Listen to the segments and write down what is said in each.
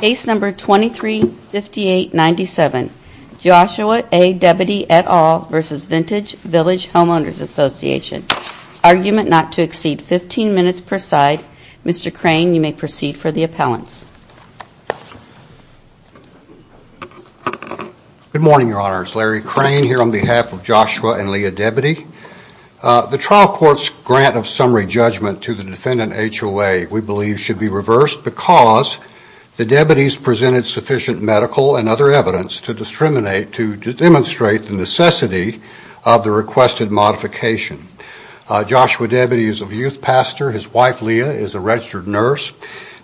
Case number 235897, Joshua A. Debity, et al. v. Vintage Village Homeowners Association. Argument not to exceed 15 minutes per side. Mr. Crane, you may proceed for the appellants. Good morning, Your Honors. Larry Crane here on behalf of Joshua and Leah Debity. The trial court's grant of summary judgment to the defendant, HOA, we believe should be reversed because the Debities presented sufficient medical and other evidence to demonstrate the necessity of the requested modification. Joshua Debity is a youth pastor. His wife, Leah, is a registered nurse.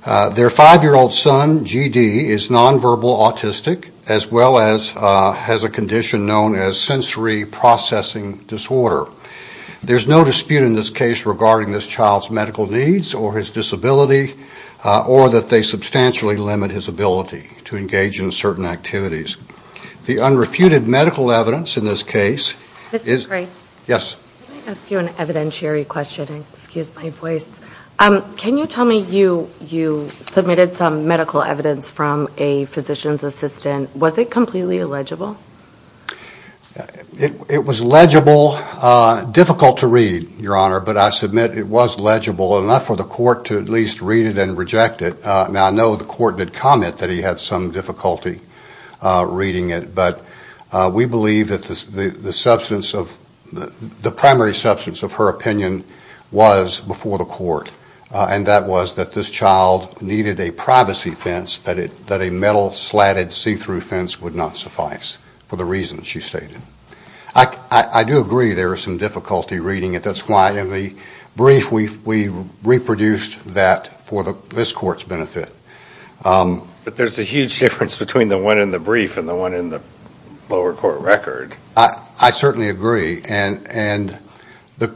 Their five-year-old son, G.D., is nonverbal autistic, as well as has a condition known as sensory processing disorder. There's no dispute in this case regarding this child's medical needs or his disability or that they substantially limit his ability to engage in certain activities. The unrefuted medical evidence in this case is... Mr. Crane. Yes. Can I ask you an evidentiary question? Excuse my voice. Can you tell me, you submitted some medical evidence from a physician's assistant. Was it completely illegible? It was legible. Difficult to read, Your Honor, but I submit it was legible enough for the court to at least read it and reject it. Now, I know the court did comment that he had some difficulty reading it, but we believe that the primary substance of her opinion was before the court, and that was that this child needed a privacy fence, that a metal slatted see-through fence would not suffice for the reasons she stated. I do agree there are some difficulty reading it. That's why in the brief we reproduced that for this court's benefit. But there's a huge difference between the one in the brief and the one in the lower court record. I certainly agree. And the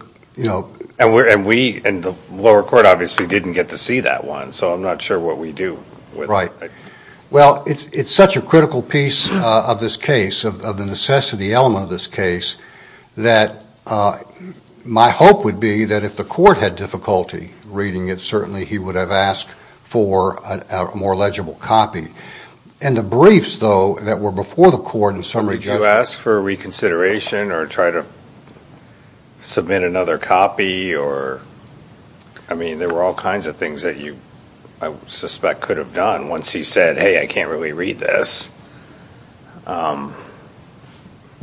lower court obviously didn't get to see that one, so I'm not sure what we do with it. Right. Well, it's such a critical piece of this case, of the necessity element of this case, that my hope would be that if the court had difficulty reading it, certainly he would have asked for a more legible copy. And the briefs, though, that were before the court in summary... Did you ask for reconsideration or try to submit another copy? I mean, there were all kinds of things that you, I suspect, could have done once he said, hey, I can't really read this.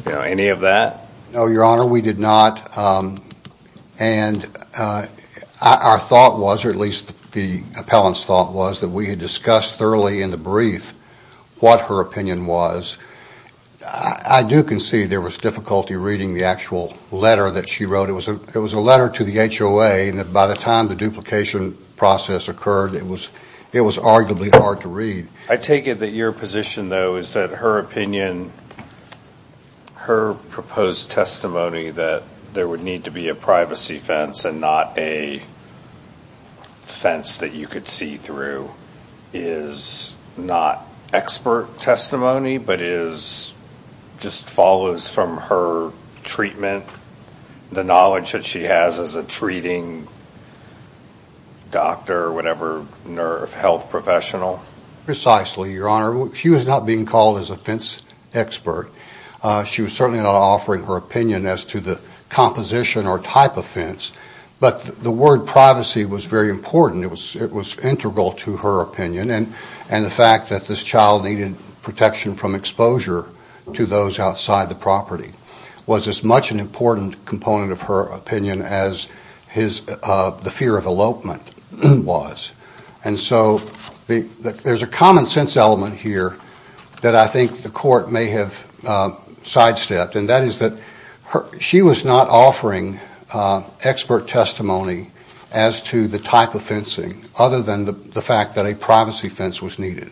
Any of that? No, your honor, we did not. And our thought was, or at least the appellant's thought was, that we had discussed thoroughly in the brief what her opinion was. I do concede there was difficulty reading the actual letter that she wrote. It was a letter to the HOA, and that by the time the duplication process occurred, it was arguably hard to read. I take it that your position, though, is that her opinion, her proposed testimony that there would need to be a privacy fence and not a fence that you could see through is not expert testimony, but just follows from her treatment, the knowledge that she has as a treating doctor, whatever, health professional? Precisely, your honor. She was not being called as a fence expert. She was certainly not offering her opinion as to the composition or type of fence, but the word privacy was very important. It was integral to her opinion, and the fact that this child needed protection from exposure to those outside the property was as much an important component of her opinion as the fear of elopement was. And so there's a common sense element here that I think the court may have sidestepped, and that is that she was not offering expert testimony as to the type of fencing, other than the fact that a privacy fence was needed.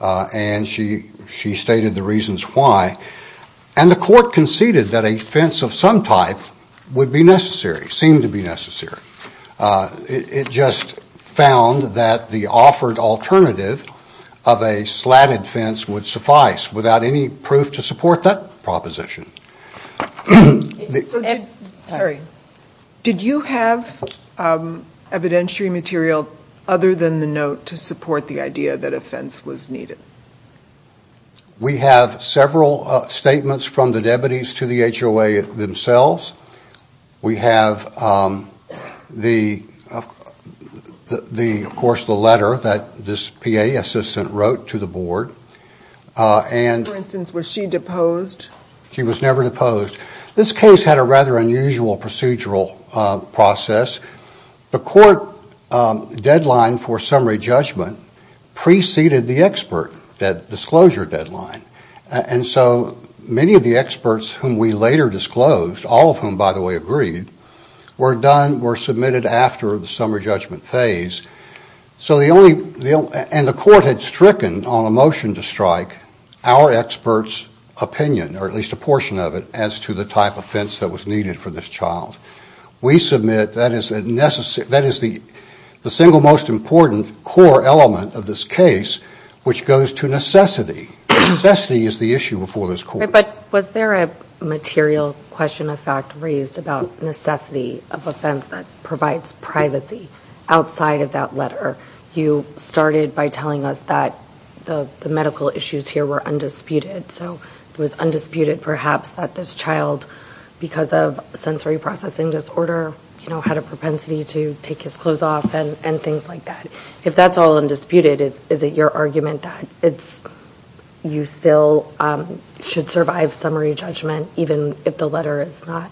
And she stated the reasons why, and the court conceded that a fence of some type would be necessary, seemed to be necessary. It just found that the offered alternative of a slatted fence would suffice without any proof to support that proposition. Sorry, did you have evidentiary material other than the to support the idea that a fence was needed? We have several statements from the deputies to the HOA themselves. We have, of course, the letter that this PA assistant wrote to the board. For instance, was she deposed? She was never deposed. This case had a rather unusual procedural process. The court deadline for summary judgment preceded the expert disclosure deadline. And so many of the experts whom we later disclosed, all of whom, by the way, agreed, were submitted after the summary judgment phase. And the court had stricken on a motion to strike our experts' opinion, or at least a portion of it, as to the type of fence that was needed for this child. We submit that is the single most important core element of this case, which goes to necessity. Necessity is the issue before this court. But was there a material question of fact raised about necessity of a fence that provides privacy outside of that letter? You started by telling us that the medical issues here were undisputed. So it was undisputed, perhaps, that this child, because of sensory processing disorder, had a propensity to take his clothes off and things like that. If that's all undisputed, is it your argument that you still should survive summary judgment, even if the letter is not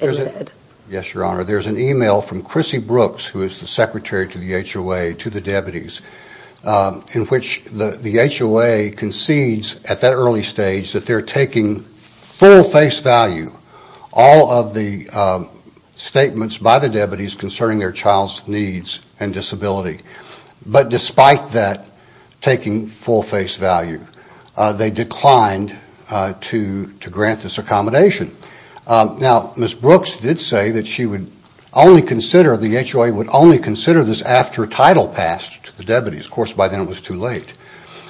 ended? Yes, Your Honor. There's an email from Chrissy Brooks, who is the secretary to the HOA, to the deputies, in which the HOA concedes at that early stage that they're taking full face value all of the statements by the deputies concerning their child's needs and disability. But despite that taking full face value, they declined to grant this accommodation. Now, Ms. Brooks did say that she would only consider, the HOA would only consider this after title passed to the deputies. Of course, by then it was too late.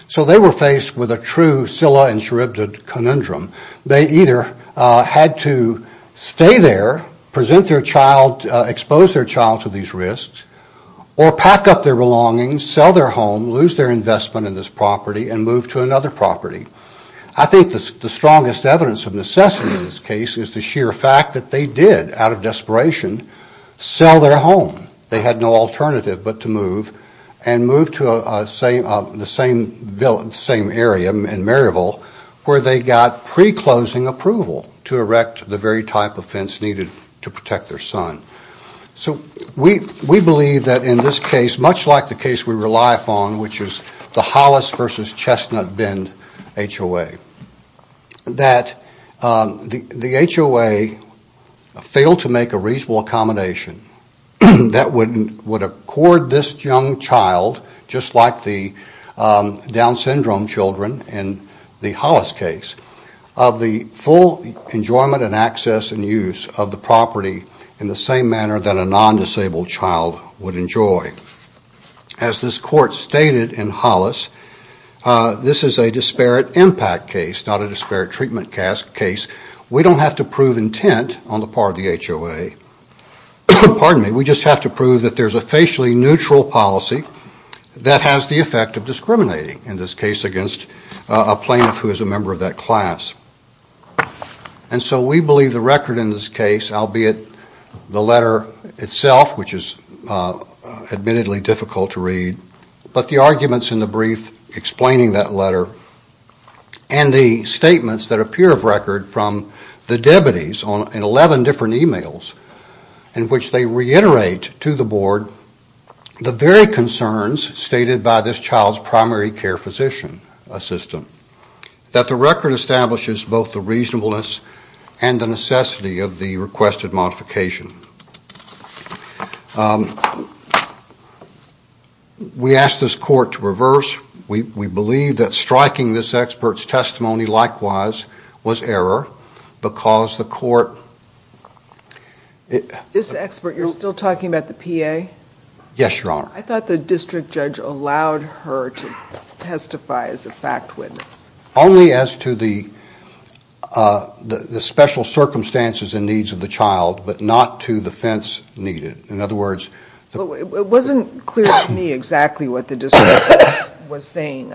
So they were faced with a true Scylla and Charybdis conundrum. They either had to stay there, present their child, expose their child to these risks, or pack up their belongings, sell their home, lose their investment in this property, and move to another property. I think the strongest evidence of necessity in this case is the sheer fact that they did, out of desperation, sell their home. They had no alternative but to move and move to the same area in Maryville, where they got pre-closing approval to erect the very type of fence needed to protect their son. So we believe that in this case, much like the case we rely upon, which is the Hollis versus Chestnut Bend HOA, that the HOA failed to make a reasonable accommodation that would accord this young child, just like the Down Syndrome children in the Hollis case, of the full enjoyment and access and use of the property in the same manner that a non-disabled child would enjoy. As this court stated in Hollis, this is a disparate impact case, not a disparate way. We just have to prove that there's a facially neutral policy that has the effect of discriminating, in this case, against a plaintiff who is a member of that class. And so we believe the record in this case, albeit the letter itself, which is admittedly difficult to read, but the arguments in the brief explaining that letter and the statements that appear of record from the debatees in 11 different emails in which they reiterate to the board the very concerns stated by this child's primary care physician assistant, that the record establishes both the reasonableness and the necessity of the requested modification. We ask this court to reverse. We believe that striking this expert's testimony, likewise, was error because the court... This expert, you're still talking about the PA? Yes, Your Honor. I thought the district judge allowed her to testify as a fact witness. Only as to the special circumstances and needs of the child, but not to the fence needed. In other words... It wasn't clear to me exactly what the district judge was saying.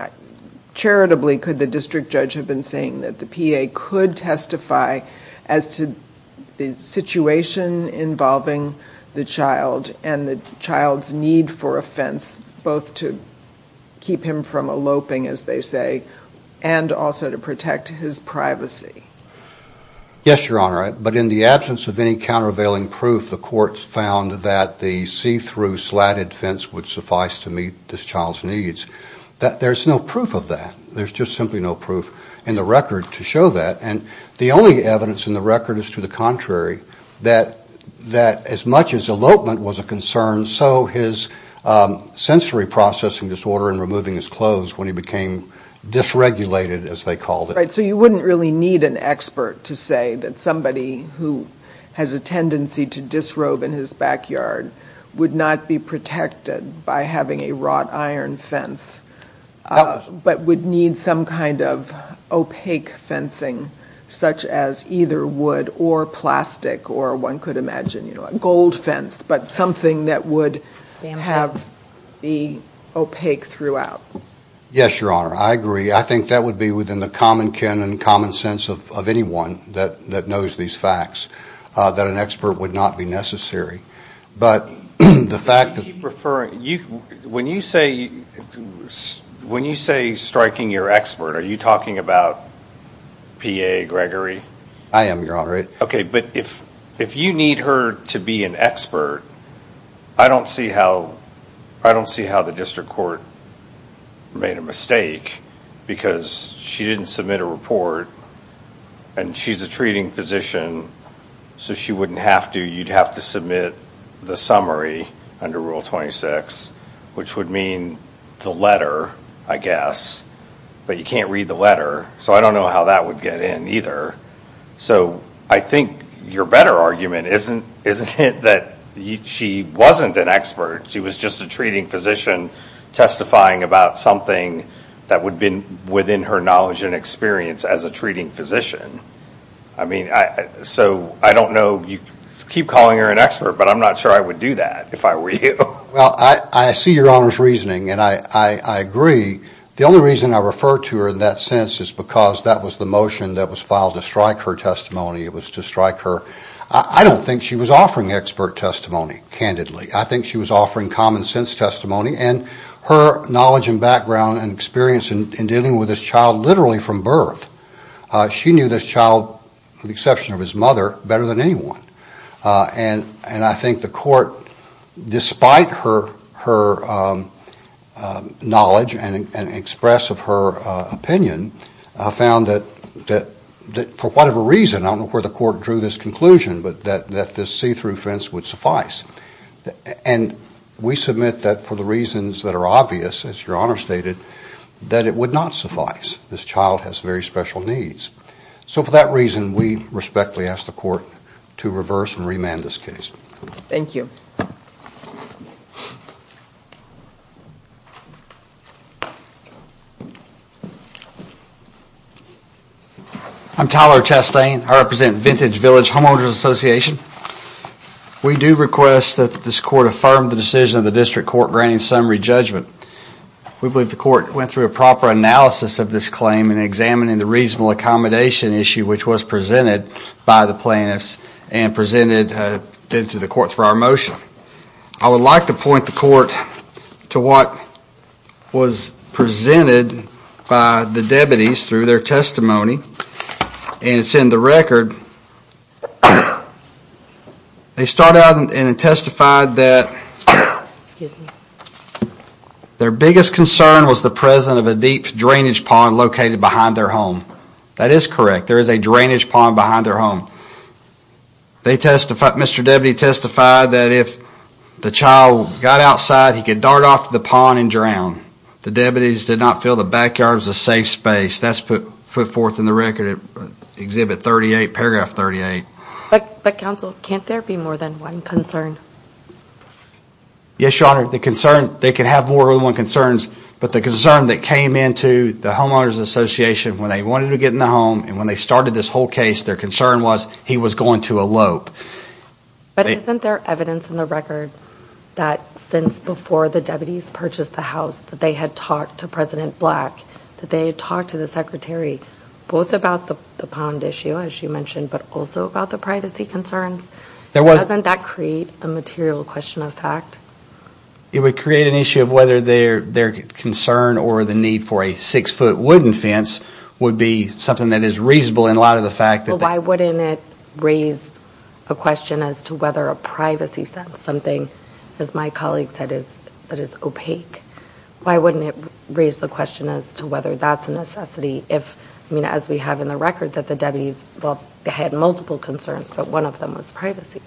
Charitably, could the district judge have been saying that the PA could testify as to the situation involving the child and the child's need for a fence, both to keep him from eloping, as they say, and also to protect his privacy? Yes, Your Honor. But in the absence of any countervailing proof, the court found that the see-through slatted fence would suffice to meet this child's needs. There's no proof of that. There's just simply no proof in the record to show that. And the only evidence in the record is to the contrary, that as much as elopement was a concern, so his sensory processing disorder in removing his clothes when he became dysregulated, as they called it. Right. So you wouldn't really need an expert to say that somebody who has a tendency to disrobe in his backyard would not be protected by having a wrought iron fence, but would need some kind of opaque fencing, such as either wood or plastic, or one could imagine a gold fence, but something that would have the opaque throughout. Yes, Your Honor. I agree. I think that would be within the common canon, common sense of anyone that knows these facts, that an expert would not be necessary. But the fact that... You keep referring... When you say striking your expert, are you talking about P.A. Gregory? I am, Your Honor. Okay, but if you need her to be an expert, I don't see how the district court made a mistake, because she didn't submit a report, and she's a treating physician, so she wouldn't have to. You'd have to submit the summary under Rule 26, which would mean the letter, I guess, but you can't read the letter, so I don't know how that would get in either. So I think your better argument isn't it that she wasn't an expert, she was just a treating physician testifying about something that would have been within her knowledge and experience as a treating physician. I mean, so I don't know, you keep calling her an expert, but I'm not sure I would do that if I were you. Well, I see Your Honor's reasoning, and I agree. The only reason I refer to her in that sense is because that was the motion that was filed to strike her testimony, it was to strike her. I don't think she was offering expert testimony, candidly. I think she was offering common sense testimony, and her knowledge and background and experience in dealing with this child literally from birth, she knew this child, with the exception of his mother, better than anyone, and I think the court, despite her knowledge and express of her opinion, found that for whatever reason, I don't know where the court drew this conclusion, but that this see-through fence would suffice. And we submit that for the reasons that are obvious, as Your Honor stated, that it would not suffice. This child has very special needs. So for that reason, we respectfully ask the court to reverse and remand this case. Thank you. I'm Tyler Chastain. I represent Vintage Village Homeowners Association. We do request that this court affirm the decision of the district court granting summary judgment. We believe the court went through a proper analysis of this claim and examining the reasonable accommodation issue which was presented by the plaintiffs and presented then to the court for our motion. I would like to point the court to what was presented by the deputies through their testimony and it's in the record. They start out and testified that their biggest concern was the presence of a deep drainage pond located behind their home. That is correct. There is a drainage pond behind their home. They testified, Mr. Deputy testified, that if the child got outside, he could dart off the pond and drown. The record, Exhibit 38, Paragraph 38. But counsel, can't there be more than one concern? Yes, Your Honor. The concern, they can have more than one concerns, but the concern that came into the Homeowners Association when they wanted to get in the home and when they started this whole case, their concern was he was going to elope. But isn't there evidence in the record that since before the deputies purchased the house that they had talked to President Black, that they had talked to President Black? It's about the pond issue, as you mentioned, but also about the privacy concerns. Doesn't that create a material question of fact? It would create an issue of whether their concern or the need for a six-foot wooden fence would be something that is reasonable in light of the fact that... Why wouldn't it raise a question as to whether a privacy sense, something, as my colleague said, that is opaque. Why wouldn't it raise the question as to whether that's a necessity if, I mean, as we have in the record that the deputies, well, they had multiple concerns, but one of them was privacy?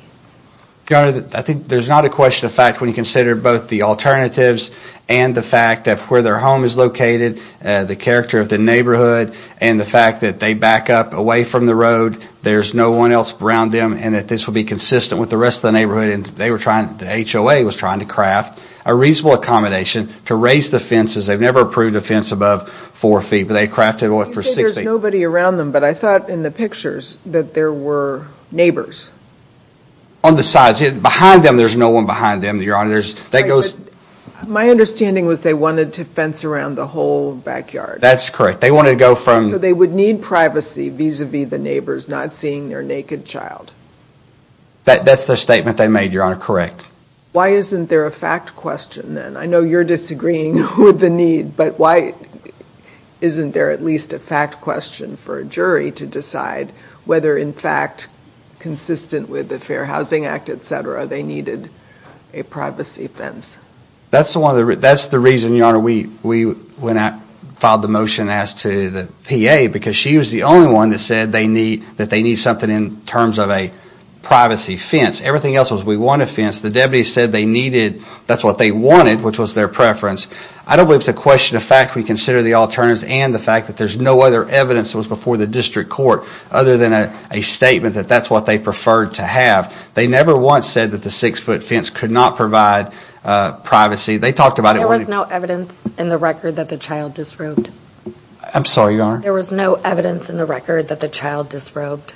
Your Honor, I think there's not a question of fact when you consider both the alternatives and the fact that where their home is located, the character of the neighborhood, and the fact that they back up away from the road, there's no one else around them, and that this will be consistent with the rest of the neighborhood, and they were trying, the HOA was trying to craft a reasonable accommodation to raise the fences. They've never approved a fence above four feet, but they crafted one for 60. You say there's nobody around them, but I thought in the pictures that there were neighbors. On the sides, behind them, there's no one behind them, Your Honor. That goes... My understanding was they wanted to fence around the whole backyard. That's correct. They wanted to go from... So they would need privacy vis-a-vis the neighbors not seeing their naked child. That's their statement they made, Your Honor, correct. Why isn't there a fact question then? I mean, why isn't there at least a fact question for a jury to decide whether, in fact, consistent with the Fair Housing Act, etc., they needed a privacy fence? That's the reason, Your Honor, we went out and filed the motion as to the PA, because she was the only one that said that they need something in terms of a privacy fence. Everything else was, we want a fence. The deputy said they needed, that's what they wanted, which was their preference. I don't believe it's a question of fact we consider the alternatives and the fact that there's no other evidence that was before the district court other than a statement that that's what they preferred to have. They never once said that the six-foot fence could not provide privacy. They talked about it... There was no evidence in the record that the child disrobed. I'm sorry, Your Honor. There was no evidence in the record that the child disrobed.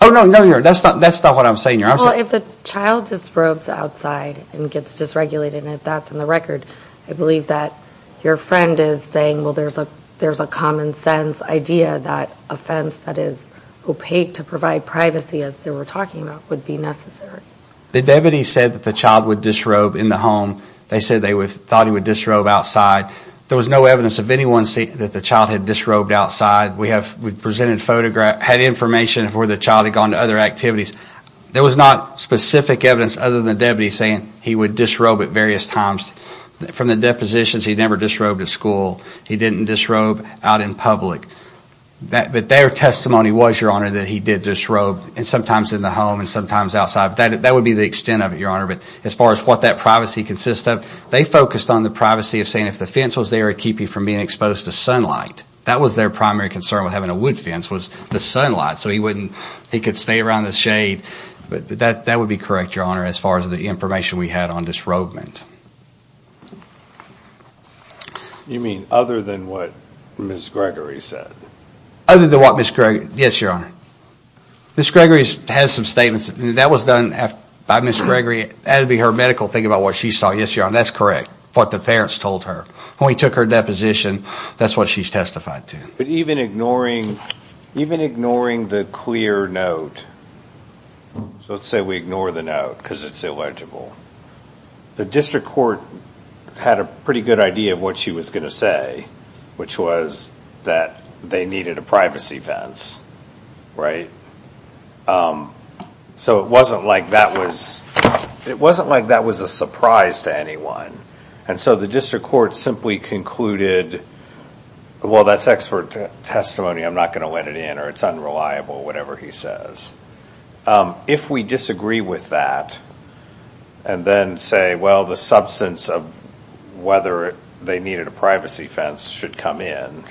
Oh, no, no, Your Honor. That's not what I'm saying, Your Honor. Well, if the child disrobes outside and gets dysregulated, and if that's in the record, I believe that your friend is saying, well, there's a common-sense idea that a fence that is opaque to provide privacy, as they were talking about, would be necessary. The deputy said that the child would disrobe in the home. They said they thought he would disrobe outside. There was no evidence of anyone saying that the child had disrobed outside. We have presented photographs, had information of where the child had gone to other activities. There was not specific evidence other than the deputy saying he would disrobe at various times. From the depositions, he never disrobed at school. He didn't disrobe out in public. But their testimony was, Your Honor, that he did disrobe, and sometimes in the home, and sometimes outside. That would be the extent of it, Your Honor. But as far as what that privacy consists of, they focused on the privacy of saying if the fence was there to keep you from being exposed to sunlight. That was their primary concern with having a wood fence, was the sunlight, so he wouldn't... He could stay around the shade. That would be correct, Your Honor, as far as the information we had on disrobement. You mean other than what Ms. Gregory said? Other than what Ms. Gregory... Yes, Your Honor. Ms. Gregory has some statements. That was done by Ms. Gregory. That would be her medical thing about what she saw. Yes, Your Honor, that's correct. What the parents told her. When we took her deposition, that's what she's testified to. But even ignoring the clear note... So let's say we ignore the note because it's illegible. The district court had a pretty good idea of what she was going to say, which was that they needed a privacy fence, right? So it wasn't like that was... It wasn't like that was a surprise to anyone. And so the district court simply concluded, well, that's expert testimony. I'm not going to let it in or it's unreliable, whatever he says. If we disagree with that and then say, well, the substance of whether they needed a privacy fence should come in,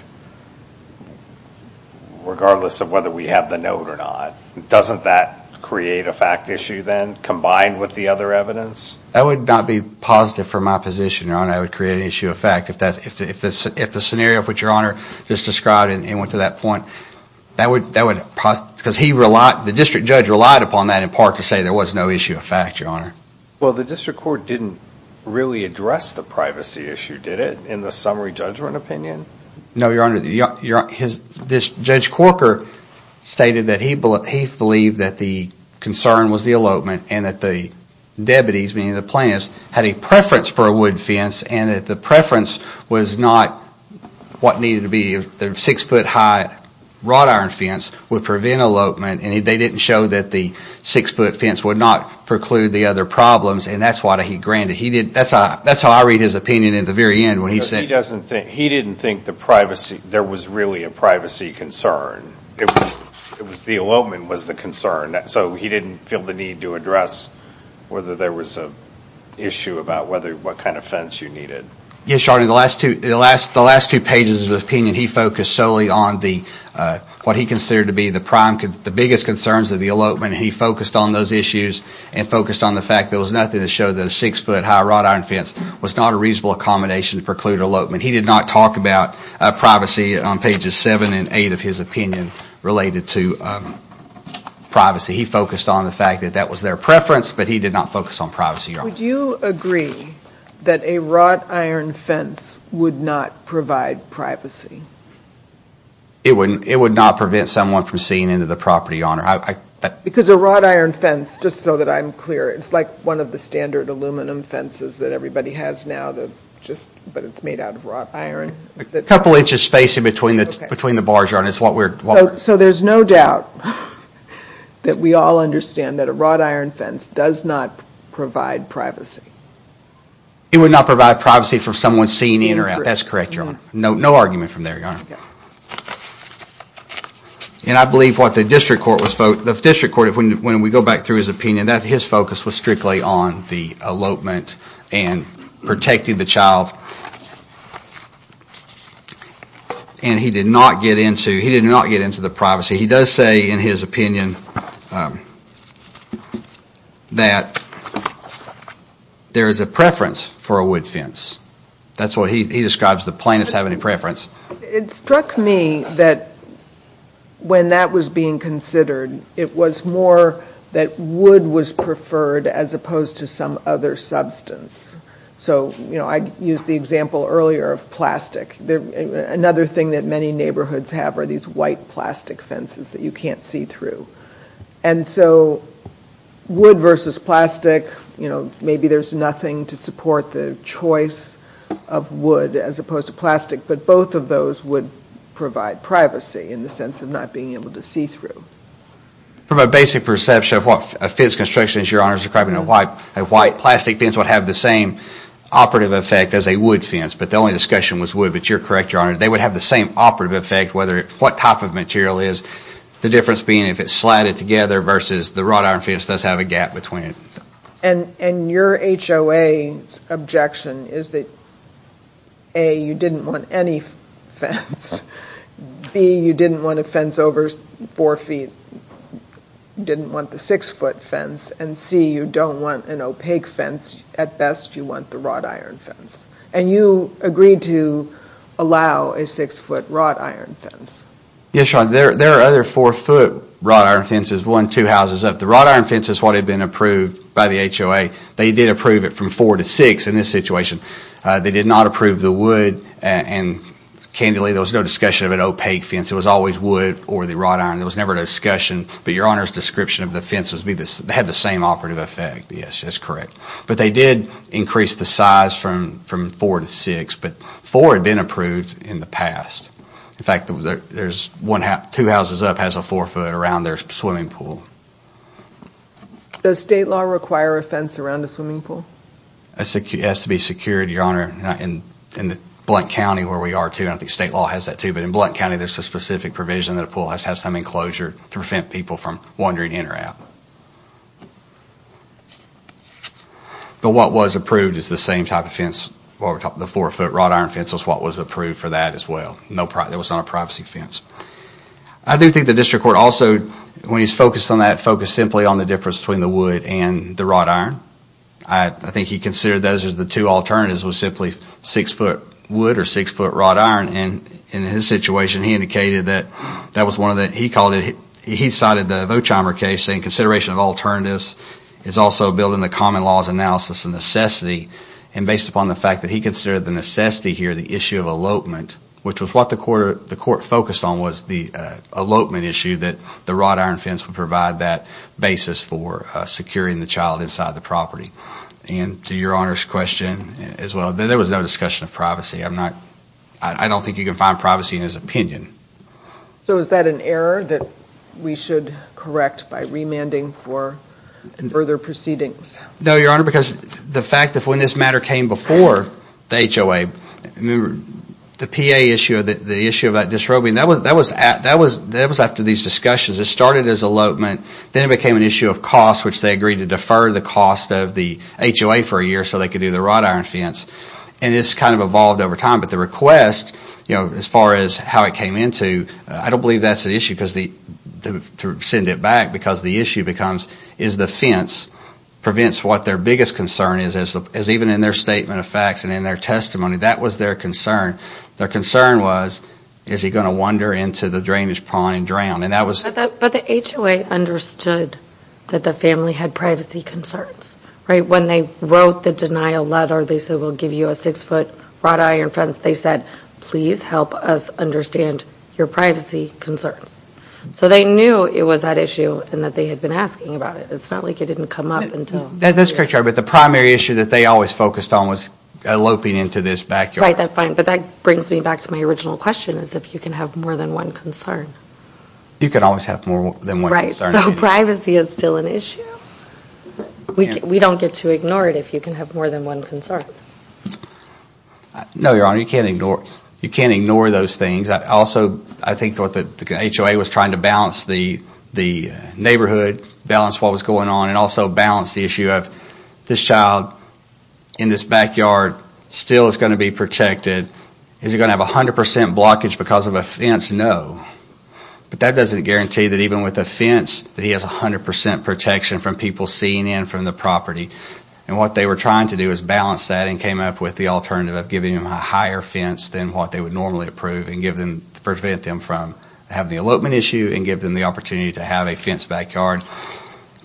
regardless of whether we have the note or not, doesn't that create a fact issue then combined with the other evidence? That would not be positive for my position, Your Honor, if the scenario for which Your Honor just described and went to that point. That would... Because he relied, the district judge relied upon that in part to say there was no issue of fact, Your Honor. Well, the district court didn't really address the privacy issue, did it, in the summary judgment opinion? No, Your Honor. Judge Corker stated that he believed that the concern was the elopement and that the debatees, meaning the plaintiffs, had a preference was not what needed to be a six-foot high wrought iron fence would prevent elopement and they didn't show that the six-foot fence would not preclude the other problems and that's why he granted. That's how I read his opinion at the very end when he said... He didn't think there was really a privacy concern. It was the elopement that was the concern. So he didn't feel the need to address whether there was an issue about what kind of fence you needed. Yes, Your Honor. The last two pages of his opinion, he focused solely on what he considered to be the biggest concerns of the elopement. He focused on those issues and focused on the fact there was nothing to show that a six-foot high wrought iron fence was not a reasonable accommodation to preclude elopement. He did not talk about privacy on pages seven and eight of his opinion related to privacy. He focused on the fact that that was their preference but he did not focus on privacy. Would you agree that a wrought iron fence would not provide privacy? It would not prevent someone from seeing into the property, Your Honor. Because a wrought iron fence, just so that I'm clear, it's like one of the standard aluminum fences that everybody has now, but it's made out of wrought iron. A couple inches spacing between the bars, Your Honor. So there's no doubt that we all understand that a wrought iron fence does not provide privacy. It would not provide privacy for someone seen in or out. That's correct, Your Honor. No argument from there, Your Honor. And I believe what the district court was, the district court, when we go back through his opinion, that his focus was strictly on the elopement and protecting the child. And he did not get into, he did not get into the privacy. He does say in his opinion that there is a preference for a wood fence. That's what he describes. The plaintiffs have any preference. It struck me that when that was being considered, it was more that wood was preferred as opposed to some other substance. So, you know, I used the example earlier of plastic. Another thing that many neighborhoods have are these white plastic fences that you can't see through. And so wood versus plastic, you know, maybe there's nothing to support the choice of wood as opposed to plastic, but both of those would provide privacy in the sense of not being able to see through. From a basic perception of what a fence construction is, Your Honor, describing a white plastic fence would have the same operative effect as a wood fence, but the only discussion was wood. But you're correct, Your Honor, they would have the same operative effect whether what type of material is. The difference being if it's slatted together versus the wrought iron fence does have a gap between it. And your HOA objection is that, A, you didn't want any fence. B, you didn't want fence over four feet. You didn't want the six-foot fence. And C, you don't want an opaque fence. At best, you want the wrought iron fence. And you agreed to allow a six-foot wrought iron fence. Yes, Your Honor, there are other four-foot wrought iron fences, one, two houses up. The wrought iron fence is what had been approved by the HOA. They did approve it from four to six in this situation. They did not approve the wood and, candidly, there was no discussion of an opaque fence. It was always wood or the wrought iron. There was never a discussion, but Your Honor's description of the fence was they had the same operative effect. Yes, that's correct. But they did increase the size from four to six, but four had been approved in the past. In fact, two houses up has a four-foot around their swimming pool. Does state law require a fence around a swimming pool? It has to be secured, Your Honor, in Blount County where we are, too. I believe there is a provision that a pool has to have some enclosure to prevent people from wandering in or out. But what was approved is the same type of fence, the four-foot wrought iron fence was what was approved for that as well. There was not a privacy fence. I do think the District Court also, when he's focused on that, focused simply on the difference between the wood and the wrought iron. I think he considered those as the two alternatives, was simply six-foot wood or six-foot wrought iron. And in his situation, he indicated that that was one of the, he called it, he cited the Vochheimer case saying consideration of alternatives is also building the common laws analysis and necessity. And based upon the fact that he considered the necessity here, the issue of elopement, which was what the court focused on, was the elopement issue that the wrought iron fence would provide that basis for securing the child inside the property. And to Your Honor's question as well, there was no discussion of privacy. I'm not, I don't think you can find privacy in his opinion. So is that an error that we should correct by remanding for further proceedings? No, Your Honor, because the fact that when this matter came before the HOA, the PA issue, the issue about disrobing, that was after these discussions. It started as elopement, then it became an issue of cost, which they agreed to defer the cost of the HOA for a year so they could do the wrought iron fence. And this kind of evolved over time, but the request, you know, as far as how it came into, I don't believe that's an issue because the, to send it back, because the issue becomes, is the fence prevents what their biggest concern is, as even in their statement of facts and in their testimony, that was their concern. Their concern was, is he going to wander into the drainage pond and drown? And that was... But the HOA understood that the family had privacy concerns, right? When they wrote the denial letter, they said, we'll give you a six-foot wrought iron fence, they said, please help us understand your privacy concerns. So they knew it was that issue and that they had been asking about it. It's not like it didn't come up until... That's correct, Your Honor, but the primary issue that they always focused on was eloping into this backyard. Right, that's fine, but that brings me back to my original question, is if you can have more than one concern. You can always have more than one concern. Right, so privacy is still an issue. We don't get to ignore it if you can have more than one concern. No, Your Honor, you can't ignore those things. I also, I think, thought that the HOA was trying to balance the neighborhood, balance what was going on, and also balance the issue of this child in this backyard still is going to be protected. Is he going to have a hundred percent blockage because of a fence? No, but that doesn't guarantee that even with a fence that he has a hundred percent protection from people seeing in from the property. And what they were trying to do is balance that and came up with the alternative of giving him a higher fence than what they would normally approve and give them, prevent them from having the elopement issue and give them the opportunity to have a fence backyard,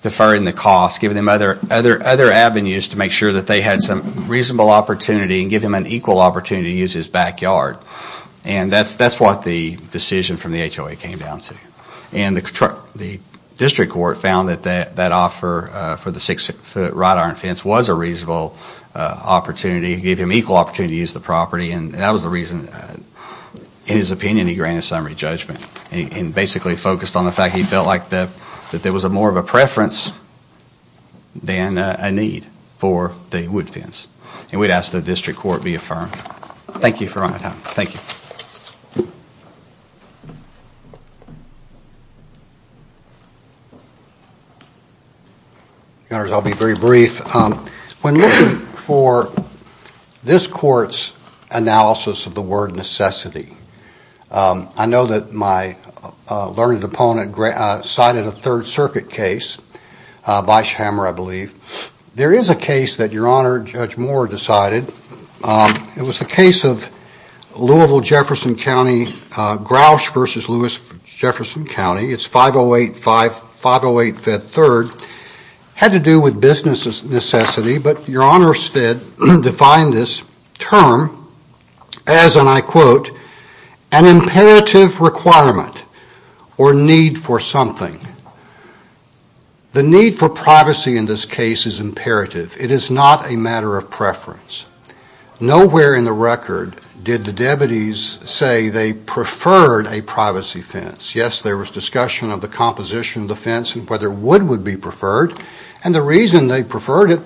deferring the cost, giving them other avenues to make sure that they had some reasonable opportunity and give him an equal opportunity to use his backyard. And that's what the decision from the HOA came down to. And the District Court found that that offer for the six-foot wrought iron fence was a reasonable opportunity, gave him equal opportunity to use the property, and that was the reason, in his opinion, he granted summary judgment and basically focused on the fact he felt like that there was a more of a preference than a need for the wood fence. And we'd ask the District Court be affirmed. Thank you for your time. Thank you. Your Honors, I'll be very brief. When looking for this Court's analysis of the word necessity, I know that my learned opponent cited a Third Circuit case by Schammer, I believe. There is a case that Your Honor, Judge Moore decided. It was the case of Louisville, Jefferson County, Grouch v. Louis, Jefferson County. It's 508-5-508-Fed-3rd. Had to do with business necessity, but Your Honors defined this term as, and I quote, an imperative requirement or need for something. The need for privacy in this case is imperative. It is not a matter of preference. Nowhere in the record did the deputies say they preferred a privacy fence. Yes, there was discussion of the composition of the fence and whether wood would be preferred. And the reason they preferred it,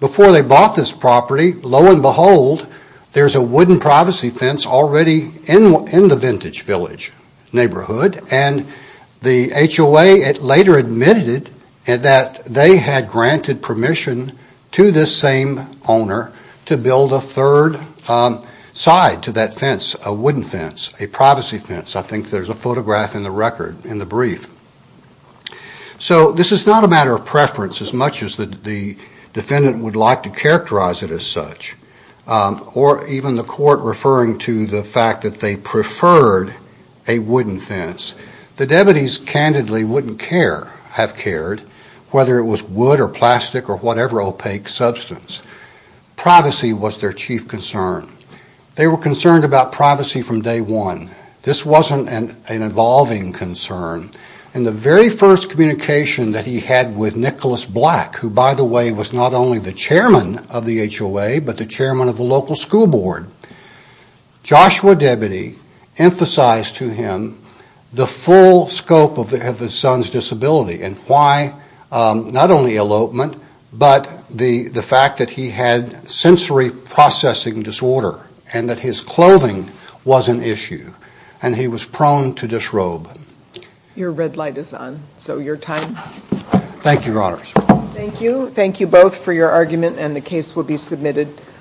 before they bought this property, lo and behold, there's a wooden privacy fence already in the Vintage Village neighborhood. And the HOA later admitted that they had granted permission to this same owner to build a third side to that fence, a privacy fence. I think there's a photograph in the record, in the brief. So this is not a matter of preference as much as the defendant would like to characterize it as such, or even the court referring to the fact that they preferred a wooden fence. The deputies, candidly, wouldn't have cared whether it was wood or plastic or whatever opaque substance. Privacy was their chief concern. They were concerned about privacy from day one. This wasn't an evolving concern. In the very first communication that he had with Nicholas Black, who, by the way, was not only the chairman of the HOA, but the chairman of the local school board, Joshua Debbatey emphasized to him the full scope of his son's disability and why not only elopement, but the fact that he had sensory processing disorder, and that his clothing was an issue, and he was prone to disrobe. Your red light is on, so your time. Thank you, Your Honors. Thank you. Thank you both for your argument, and the case will be submitted.